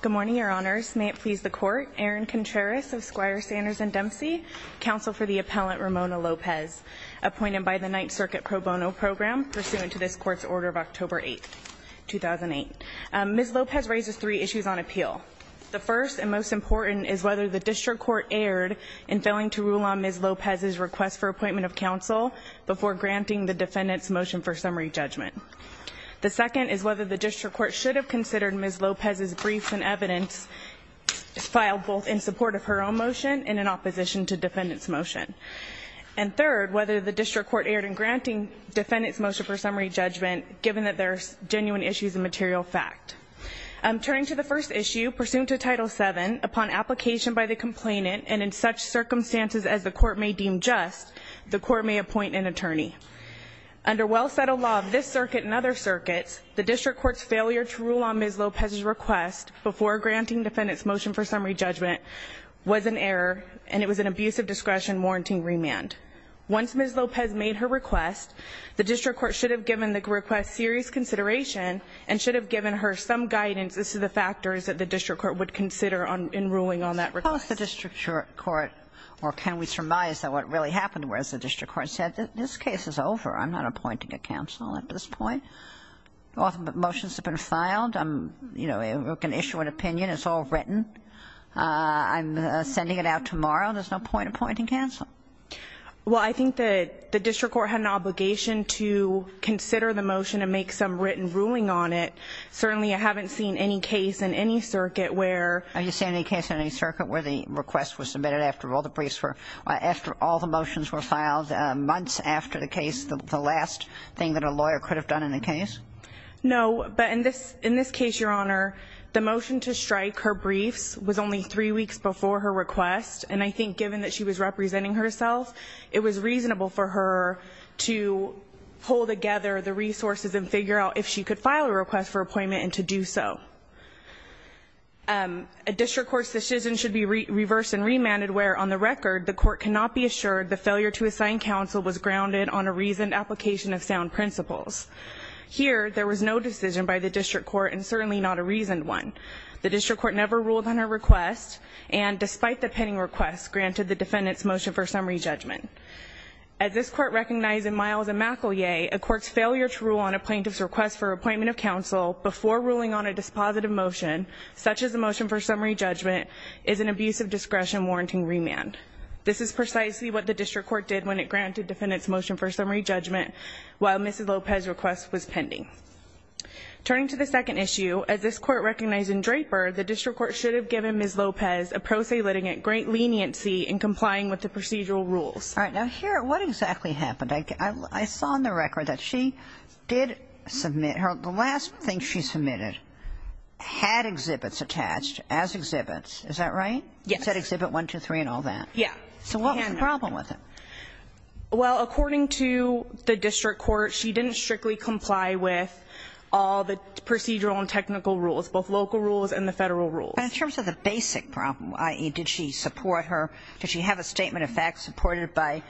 Good morning, your honors. May it please the court. Erin Contreras of Squire, Sanders & Dempsey, counsel for the appellant Ramona Lopez, appointed by the Ninth Circuit Pro Bono Program, pursuant to this court's order of October 8, 2008. Ms. Lopez raises three issues on appeal. The first, and most important, is whether the district court erred in failing to rule on Ms. Lopez's request for appointment of counsel before granting the defendant's motion for summary judgment. The second is whether the district court should have considered Ms. Lopez's briefs and evidence filed both in support of her own motion and in opposition to defendant's motion. And third, whether the district court erred in granting defendant's motion for summary judgment, given that there are genuine issues and material fact. Turning to the first issue, pursuant to Title VII, upon application by the complainant, and in such circumstances as the court may deem just, the court may appoint an attorney. Under well-settled law of this circuit and other circuits, the district court's failure to rule on Ms. Lopez's request before granting defendant's motion for summary judgment was an error, and it was an abuse of discretion warranting remand. Once Ms. Lopez made her request, the district court should have given the request serious consideration and should have given her some guidance as to the factors that the district court would consider in ruling on that request. Suppose the district court, or can we surmise that what really happened was the district court said, this case is over. I'm not appointing a counsel at this point. All the motions have been filed. I'm, you know, going to issue an opinion. It's all written. I'm sending it out tomorrow. There's no point in appointing counsel. Well, I think that the district court had an obligation to consider the motion and make some written ruling on it. Certainly I haven't seen any case in any circuit where... Are you saying any case in any circuit where the request was submitted after all the briefs were, after all the motions were filed, months after the case, the last thing that a lawyer could have done in the case? No, but in this case, Your Honor, the motion to strike her briefs was only three weeks before her request, and I think given that she was representing herself, it was reasonable for her to pull together the resources and figure out if she could file a request for appointment and to do so. A district court's decision should be reversed and remanded where, on the record, the court cannot be assured the failure to assign counsel was grounded on a reasoned application of sound principles. Here, there was no decision by the district court, and certainly not a reasoned one. The district court never ruled on her request, and despite the pending request, granted the defendant's motion for summary judgment. As this court recognized in Miles and McElyea, a court's failure to rule on a plaintiff's request for appointment of counsel before ruling on a dispositive motion, such as a motion for summary judgment, is an abuse of discretion warranting remand. This is precisely what the district court did when it granted defendant's motion for summary judgment while Mrs. Lopez's request was pending. Turning to the second issue, as this court recognized in Draper, the district court should have given Ms. Lopez a pro se litigant great leniency in complying with the procedural rules. All right, now here, what exactly happened? I saw on the record that she did submit her the last thing she submitted had exhibits attached as exhibits. Is that right? Yes. It said exhibit 1, 2, 3, and all that. Yeah. So what was the problem with it? Well, according to the district court, she didn't strictly comply with all the procedural and technical rules, both local rules and the federal rules. But in terms of the basic problem, i.e., did she support her, did she have a statement of facts supported by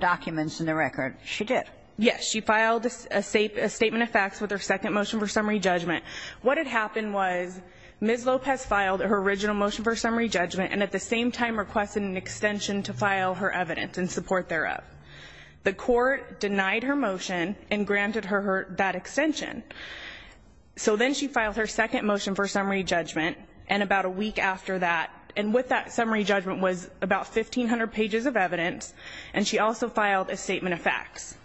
documents in the record? She did. Yes, she filed a statement of facts with her second motion for summary judgment. What had happened was Ms. Lopez filed her original motion for summary judgment and at the same time requested an extension to file her evidence in support thereof. The court denied her motion and granted her that extension. So then she filed her second motion for summary judgment, and about a week after that, and what that summary judgment was about 1,500 pages of evidence, and she also filed a statement of facts.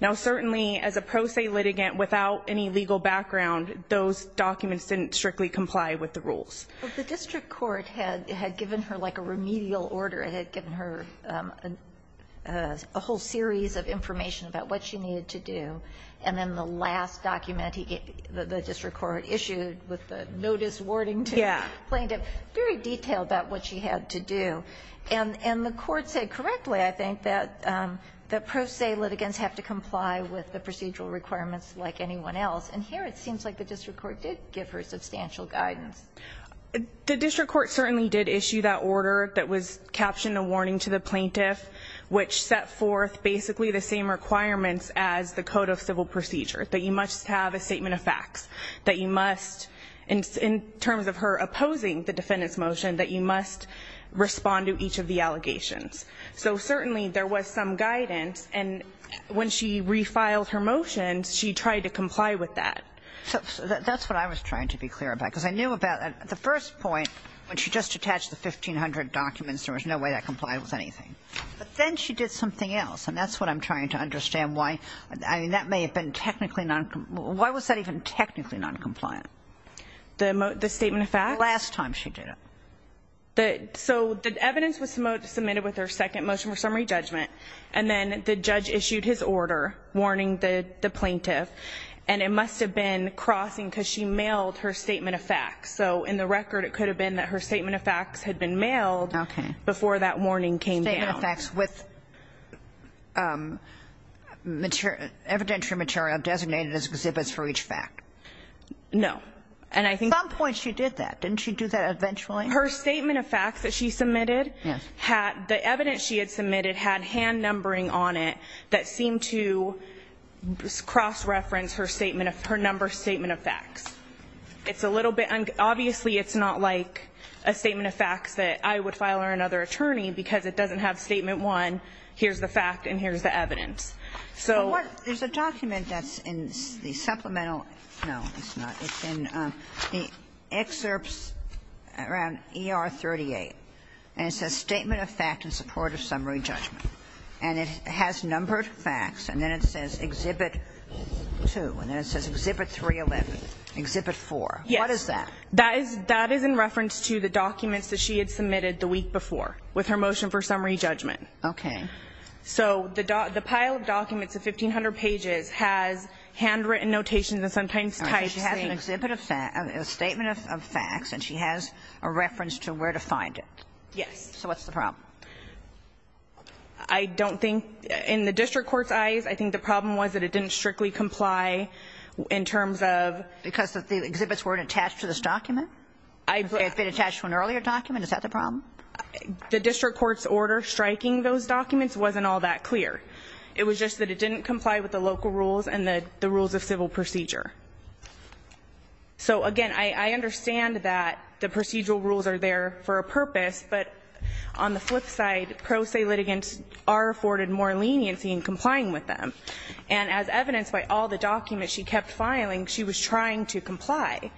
Now, certainly as a pro se litigant without any legal background, those documents didn't strictly comply with the rules. Well, the district court had given her like a remedial order. It had given her a whole series of information about what she needed to do. And then the last document the district court issued with the notice wording to plaintiff very detailed about what she had to do. And the court said correctly, I think, that pro se litigants have to comply with the procedural requirements like anyone else. And here it seems like the district court did give her substantial guidance. The district court certainly did issue that order that was captioned a warning to the plaintiff, which set forth basically the same requirements as the code of civil procedure, that you must have a statement of facts, that you must, in terms of her opposing the defendant's motion, that you must respond to each of the allegations. So certainly there was some guidance, and when she refiled her motions, she tried to comply with that. So that's what I was trying to be clear about. Because I knew about at the first point when she just attached the 1,500 documents, there was no way that complied with anything. But then she did something else, and that's what I'm trying to understand why. I mean, that may have been technically noncompliant. Why was that even technically noncompliant? The statement of facts? The last time she did it. So the evidence was submitted with her second motion for summary judgment, and then the judge issued his order warning the plaintiff. And it must have been crossing because she mailed her statement of facts. So in the record it could have been that her statement of facts had been mailed before that warning came down. Statement of facts with evidentiary material designated as exhibits for each fact. No. At some point she did that. Didn't she do that eventually? Her statement of facts that she submitted, the evidence she had submitted had hand numbering on it that seemed to cross-reference her statement of her number statement of facts. It's a little bit unclear. Obviously it's not like a statement of facts that I would file or another attorney because it doesn't have statement one, here's the fact and here's the evidence. So what? There's a document that's in the supplemental. No, it's not. It's in the excerpts around ER 38. And it says statement of fact in support of summary judgment. And it has numbered facts. And then it says exhibit 2. And then it says exhibit 311, exhibit 4. Yes. What is that? That is in reference to the documents that she had submitted the week before with her motion for summary judgment. Okay. So the pile of documents of 1,500 pages has handwritten notations and sometimes typed things. All right. So she has a statement of facts and she has a reference to where to find it. Yes. So what's the problem? I don't think, in the district court's eyes, I think the problem was that it didn't strictly comply in terms of. Because the exhibits weren't attached to this document? It had been attached to an earlier document? Is that the problem? The district court's order striking those documents wasn't all that clear. It was just that it didn't comply with the local rules and the rules of civil procedure. So, again, I understand that the procedural rules are there for a purpose. But on the flip side, pro se litigants are afforded more leniency in complying with them. And as evidenced by all the documents she kept filing, she was trying to comply.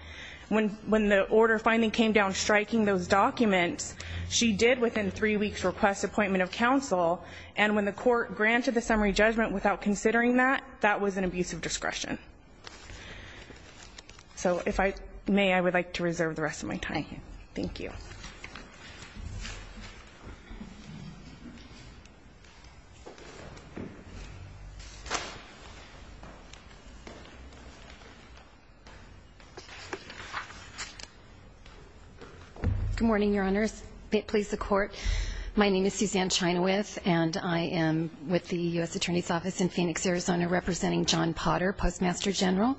When the order finally came down striking those documents, she did within three weeks request appointment of counsel. And when the court granted the summary judgment without considering that, that was an abuse of discretion. So if I may, I would like to reserve the rest of my time here. Thank you. Good morning, Your Honors. Please support. My name is Suzanne Chinaweth, and I am with the U.S. Attorney's Office in Phoenix, Arizona, representing John Potter, Postmaster General.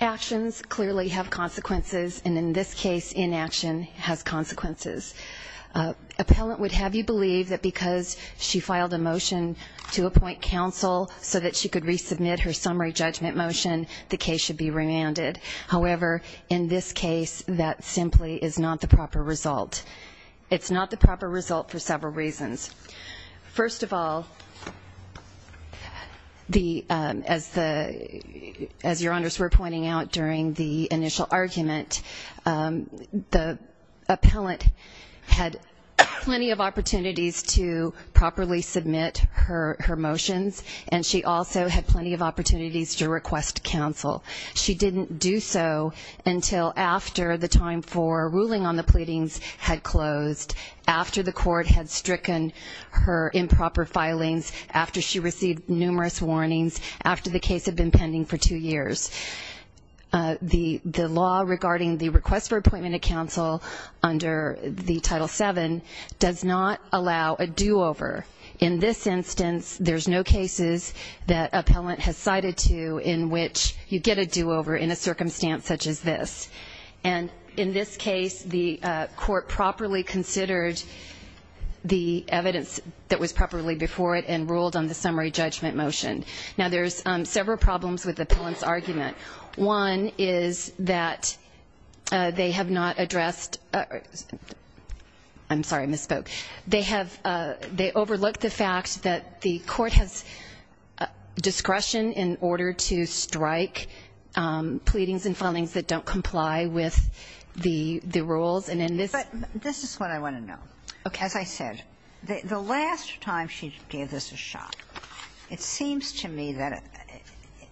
Actions clearly have consequences. And in this case, inaction has consequences. Appellant would have you believe that because she filed a motion to appoint counsel so that she could resubmit her summary judgment motion, the case should be remanded. However, in this case, that simply is not the proper result. It's not the proper result for several reasons. First of all, as Your Honors were pointing out during the initial argument, the appellant had plenty of opportunities to properly submit her motions, and she also had plenty of opportunities to request counsel. She didn't do so until after the time for ruling on the pleadings had closed, after the court had stricken her improper filings, after she received numerous warnings, after the case had been pending for two years. The law regarding the request for appointment of counsel under the Title VII does not allow a do-over. In this instance, there's no cases that appellant has cited to in which you get a do-over in a circumstance such as this. And in this case, the court properly considered the evidence that was properly before it and ruled on the summary judgment motion. Now, there's several problems with the appellant's argument. One is that they have not addressed the fact that the court has discretion in order to strike pleadings and filings that don't comply with the rules. And in this ---- But this is what I want to know. Okay. As I said, the last time she gave this a shot, it seems to me that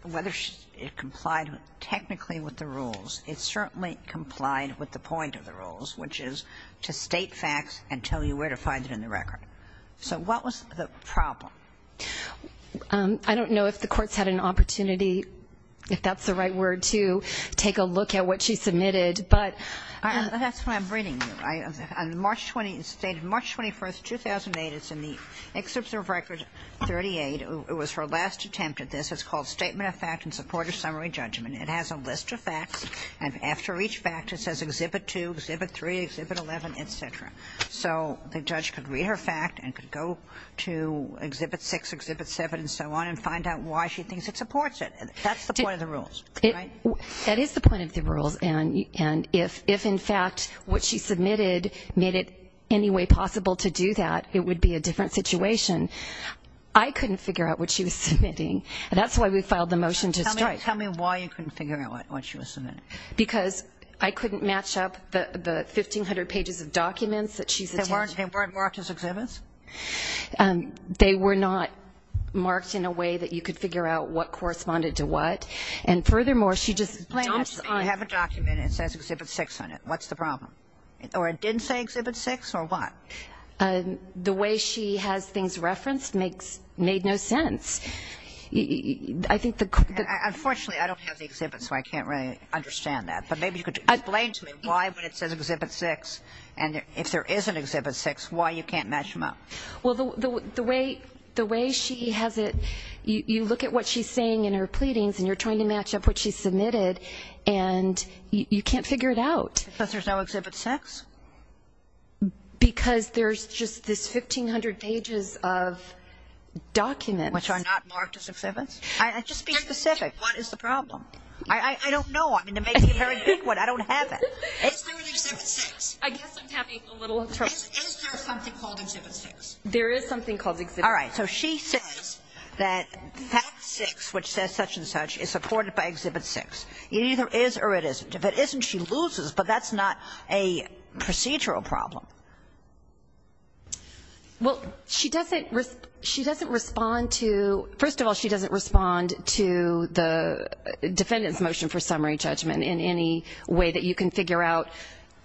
whether she complied technically with the rules, it certainly complied with the point of the rules, which is to state facts and tell you where to find them in the record. So what was the problem? I don't know if the courts had an opportunity, if that's the right word, to take a look at what she submitted. But ---- That's what I'm reading. On March 20th, it's stated March 21st, 2008. It's in the Excerpts of Record 38. It was her last attempt at this. It's called Statement of Fact in Support of Summary Judgment. It has a list of facts. And after each fact, it says Exhibit 2, Exhibit 3, Exhibit 11, et cetera. So the judge could read her fact and could go to Exhibit 6, Exhibit 7, and so on and find out why she thinks it supports it. That's the point of the rules, right? That is the point of the rules. And if, in fact, what she submitted made it any way possible to do that, it would be a different situation. I couldn't figure out what she was submitting. And that's why we filed the motion to strike. Tell me why you couldn't figure out what she was submitting. Because I couldn't match up the 1,500 pages of documents that she submitted. They weren't marked as exhibits? They were not marked in a way that you could figure out what corresponded to what. And furthermore, she just dumps on it. You have a document and it says Exhibit 6 on it. What's the problem? Or it didn't say Exhibit 6 or what? The way she has things referenced made no sense. Unfortunately, I don't have the exhibit, so I can't really understand that. But maybe you could explain to me why when it says Exhibit 6, and if there is an Exhibit 6, why you can't match them up. Well, the way she has it, you look at what she's saying in her pleadings and you're trying to match up what she submitted, and you can't figure it out. Because there's no Exhibit 6? Because there's just this 1,500 pages of documents. Which are not marked as exhibits? Just be specific. What is the problem? I don't know. I mean, to make it very quick, I don't have it. Is there an Exhibit 6? I guess I'm having a little trouble. Is there something called Exhibit 6? There is something called Exhibit 6. All right, so she says that that 6, which says such and such, is supported by Exhibit 6. It either is or it isn't. If it isn't, she loses, but that's not a procedural problem. Well, she doesn't respond to, first of all, she doesn't respond to the defendant's motion for summary judgment in any way that you can figure out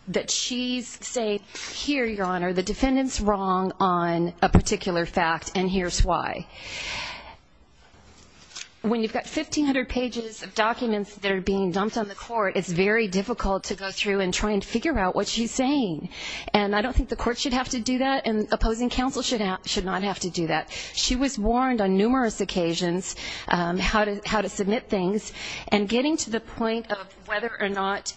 that she's saying, here, Your Honor, the defendant's wrong on a particular fact and here's why. When you've got 1,500 pages of documents that are being dumped on the court, it's very difficult to go through and try and figure out what she's saying. And I don't think the court should have to do that and opposing counsel should not have to do that. She was warned on numerous occasions how to submit things and getting to the point of whether or not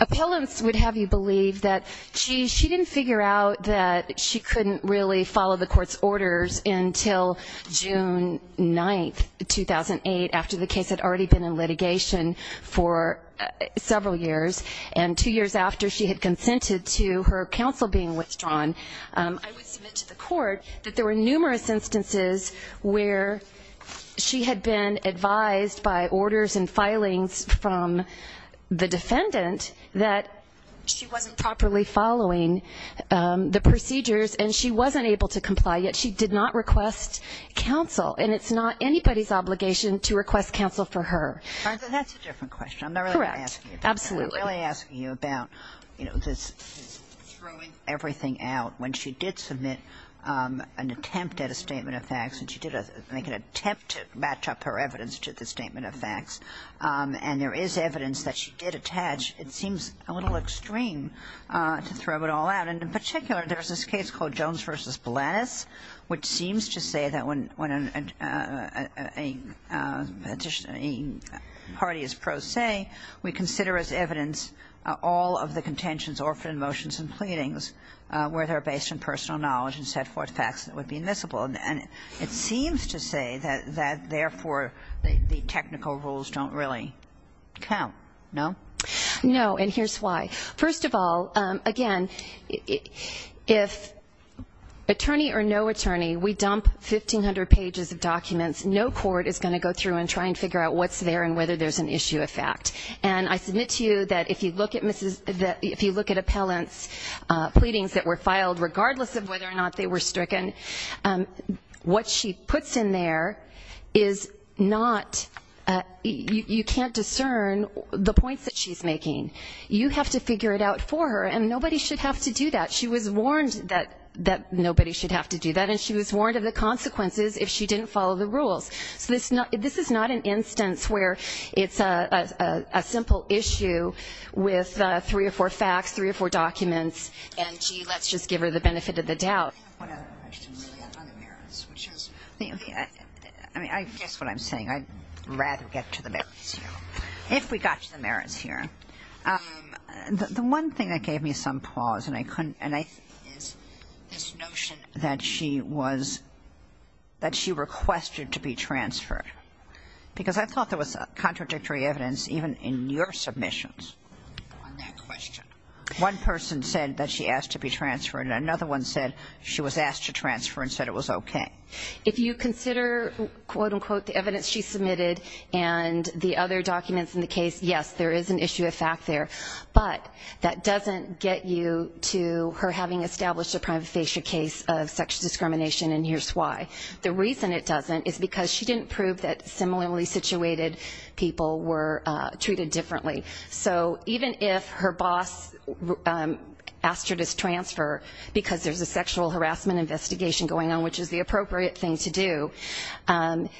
appellants would have you believe that she didn't figure out that she couldn't really follow the court's orders until June 9, 2008, after the case had already been in litigation for several years and two years after she had consented to her counsel being withdrawn. I would submit to the court that there were numerous instances where she had been advised by orders and filings from the defendant that she wasn't properly following the procedures and she wasn't able to comply, yet she did not request counsel. And it's not anybody's obligation to request counsel for her. That's a different question. Correct. Absolutely. I'm really asking you about, you know, this throwing everything out. When she did submit an attempt at a statement of facts and she did make an attempt to match up her evidence to the statement of facts and there is evidence that she did attach, it seems a little extreme to throw it all out. And in particular, there's this case called Jones v. Balanis, which seems to say that when a party is pro se, we consider as evidence all of the contentions offered in motions and pleadings where they're based on personal knowledge and set forth facts that would be admissible. And it seems to say that, therefore, the technical rules don't really count, no? No, and here's why. First of all, again, if attorney or no attorney, we dump 1,500 pages of documents, no court is going to go through and try and figure out what's there and whether there's an issue of fact. And I submit to you that if you look at appellants' pleadings that were filed, regardless of whether or not they were stricken, what she puts in there is not you can't discern the points that she's making. You have to figure it out for her, and nobody should have to do that. She was warned that nobody should have to do that, and she was warned of the consequences if she didn't follow the rules. So this is not an instance where it's a simple issue with three or four facts, three or four documents, and, gee, let's just give her the benefit of the doubt. I have one other question really on other merits, which is, I mean, I guess what I'm saying. I'd rather get to the merits here. If we got to the merits here, the one thing that gave me some pause, and I couldn't, is this notion that she requested to be transferred, because I thought there was contradictory evidence even in your submissions on that question. One person said that she asked to be transferred, and another one said she was asked to transfer and said it was okay. If you consider, quote, unquote, the evidence she submitted and the other documents in the case, yes, there is an issue of fact there, but that doesn't get you to her having established a prima facie case of sexual discrimination, and here's why. The reason it doesn't is because she didn't prove that similarly situated people were treated differently. So even if her boss asked her to transfer because there's a sexual harassment investigation going on, which is the appropriate thing to do,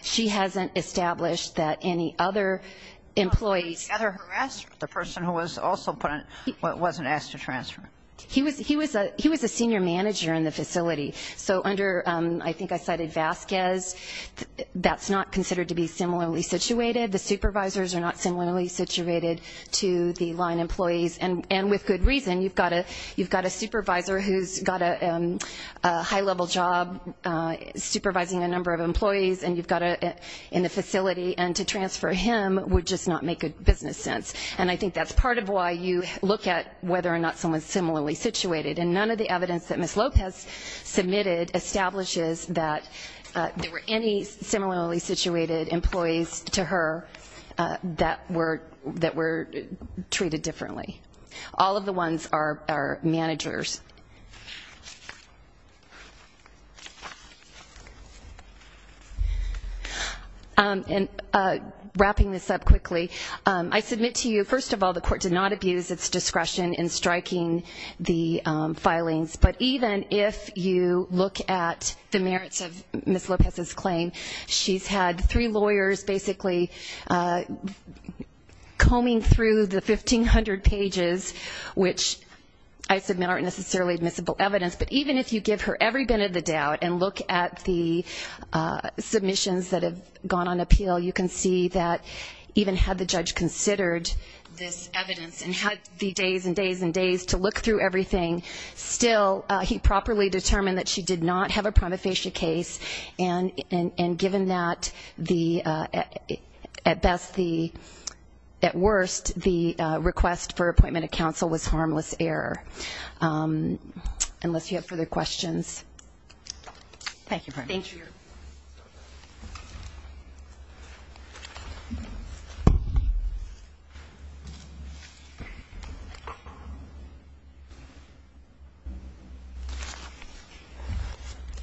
she hasn't established that any other employees. The person who was also put on wasn't asked to transfer. He was a senior manager in the facility. So under, I think I cited Vasquez, that's not considered to be similarly situated. The supervisors are not similarly situated to the line employees, and with good reason. You've got a supervisor who's got a high-level job supervising a number of employees in the facility, and to transfer him would just not make good business sense. And I think that's part of why you look at whether or not someone's similarly situated. And none of the evidence that Ms. Lopez submitted establishes that there were any similarly situated employees to her that were treated differently. All of the ones are managers. And wrapping this up quickly, I submit to you, first of all, the court did not abuse its discretion in striking the filings. But even if you look at the merits of Ms. Lopez's claim, she's had three lawyers basically combing through the 1,500 pages, which I submit aren't necessarily admissible evidence. But even if you give her every bit of the doubt and look at the submissions that have gone on appeal, you can see that even had the judge considered this evidence and had the days and days and days to look through everything, still he properly determined that she did not have a prima facie case. And given that, at best, at worst, the request for appointment of counsel was harmless error. Unless you have further questions. Thank you, Your Honor. Thank you.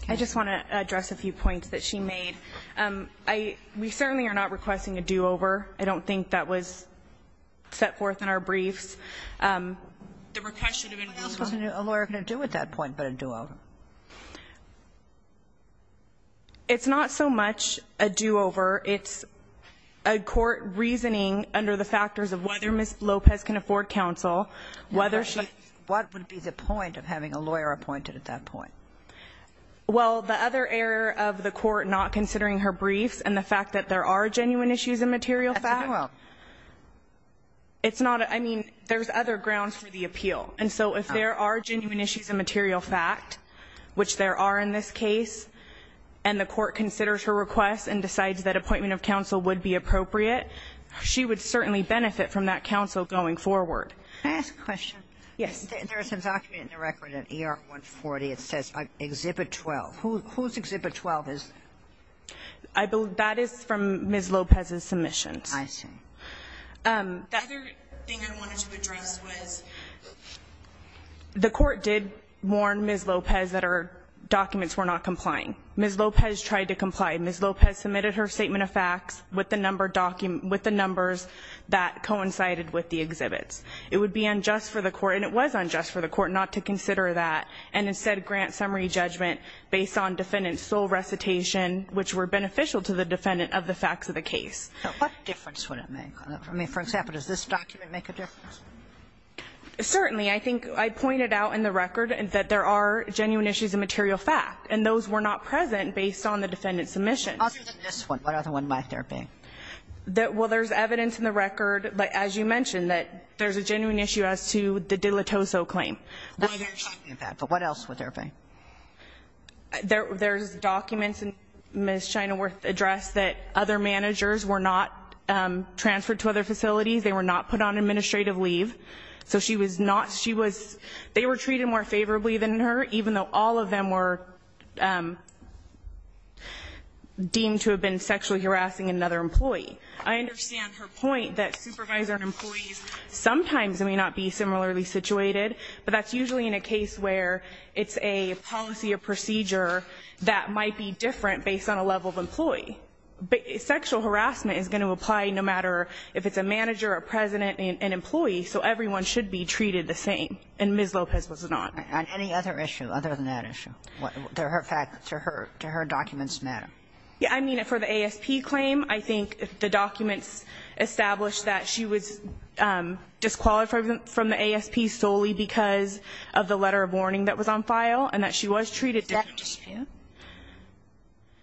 I just want to address a few points that she made. We certainly are not requesting a do-over. I don't think that was set forth in our briefs. The request should have been do-over. What else was a lawyer going to do at that point but a do-over? It's not so much a do-over. It's a court reasoning under the factors of whether Ms. Lopez can afford counsel, whether she can. What would be the point of having a lawyer appointed at that point? Well, the other error of the court not considering her briefs and the fact that there are genuine issues in material fact. That's a do-over. It's not. I mean, there's other grounds for the appeal. And so if there are genuine issues in material fact, which there are in this case, and the court considers her request and decides that appointment of counsel would be appropriate, she would certainly benefit from that counsel going forward. May I ask a question? Yes. There's a document in the record in ER 140. It says Exhibit 12. Whose Exhibit 12 is that? That is from Ms. Lopez's submissions. I see. The other thing I wanted to address was the court did warn Ms. Lopez that her documents were not complying. Ms. Lopez tried to comply. Ms. Lopez submitted her statement of facts with the numbers that coincided with the exhibits. It would be unjust for the court, and it was unjust for the court, not to consider that and instead grant summary judgment based on defendant's sole recitation, which were beneficial to the defendant of the facts of the case. What difference would it make? I mean, for example, does this document make a difference? Certainly. I think I pointed out in the record that there are genuine issues in material fact, and those were not present based on the defendant's submissions. Other than this one, what other one might there be? Well, there's evidence in the record, as you mentioned, that there's a genuine issue as to the Dilettoso claim. What are you talking about? But what else would there be? There's documents in Ms. Shinaworth's address that other managers were not transferred to other facilities. They were not put on administrative leave. So she was not, she was, they were treated more favorably than her, even though all of them were deemed to have been sexually harassing another employee. I understand her point that supervisor and employees sometimes may not be similarly situated, but that's usually in a case where it's a policy or procedure that might be different based on a level of employee. Sexual harassment is going to apply no matter if it's a manager, a president, an employee, so everyone should be treated the same. And Ms. Lopez was not. And any other issue other than that issue? Do her documents matter? Yeah, I mean, for the ASP claim, I think the documents establish that she was disqualified from the ASP solely because of the letter of warning that was on file and that she was treated differently. Is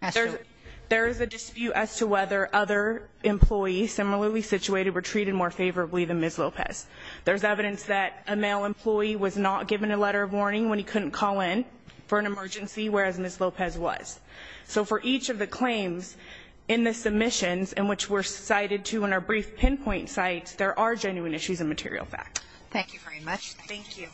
that a dispute? There is a dispute as to whether other employees similarly situated were treated more favorably than Ms. Lopez. There's evidence that a male employee was not given a letter of warning when he couldn't call in for an emergency, whereas Ms. Lopez was. So for each of the claims in the submissions in which we're cited to in our brief pinpoint sites, there are genuine issues and material facts. Thank you very much. Thank you.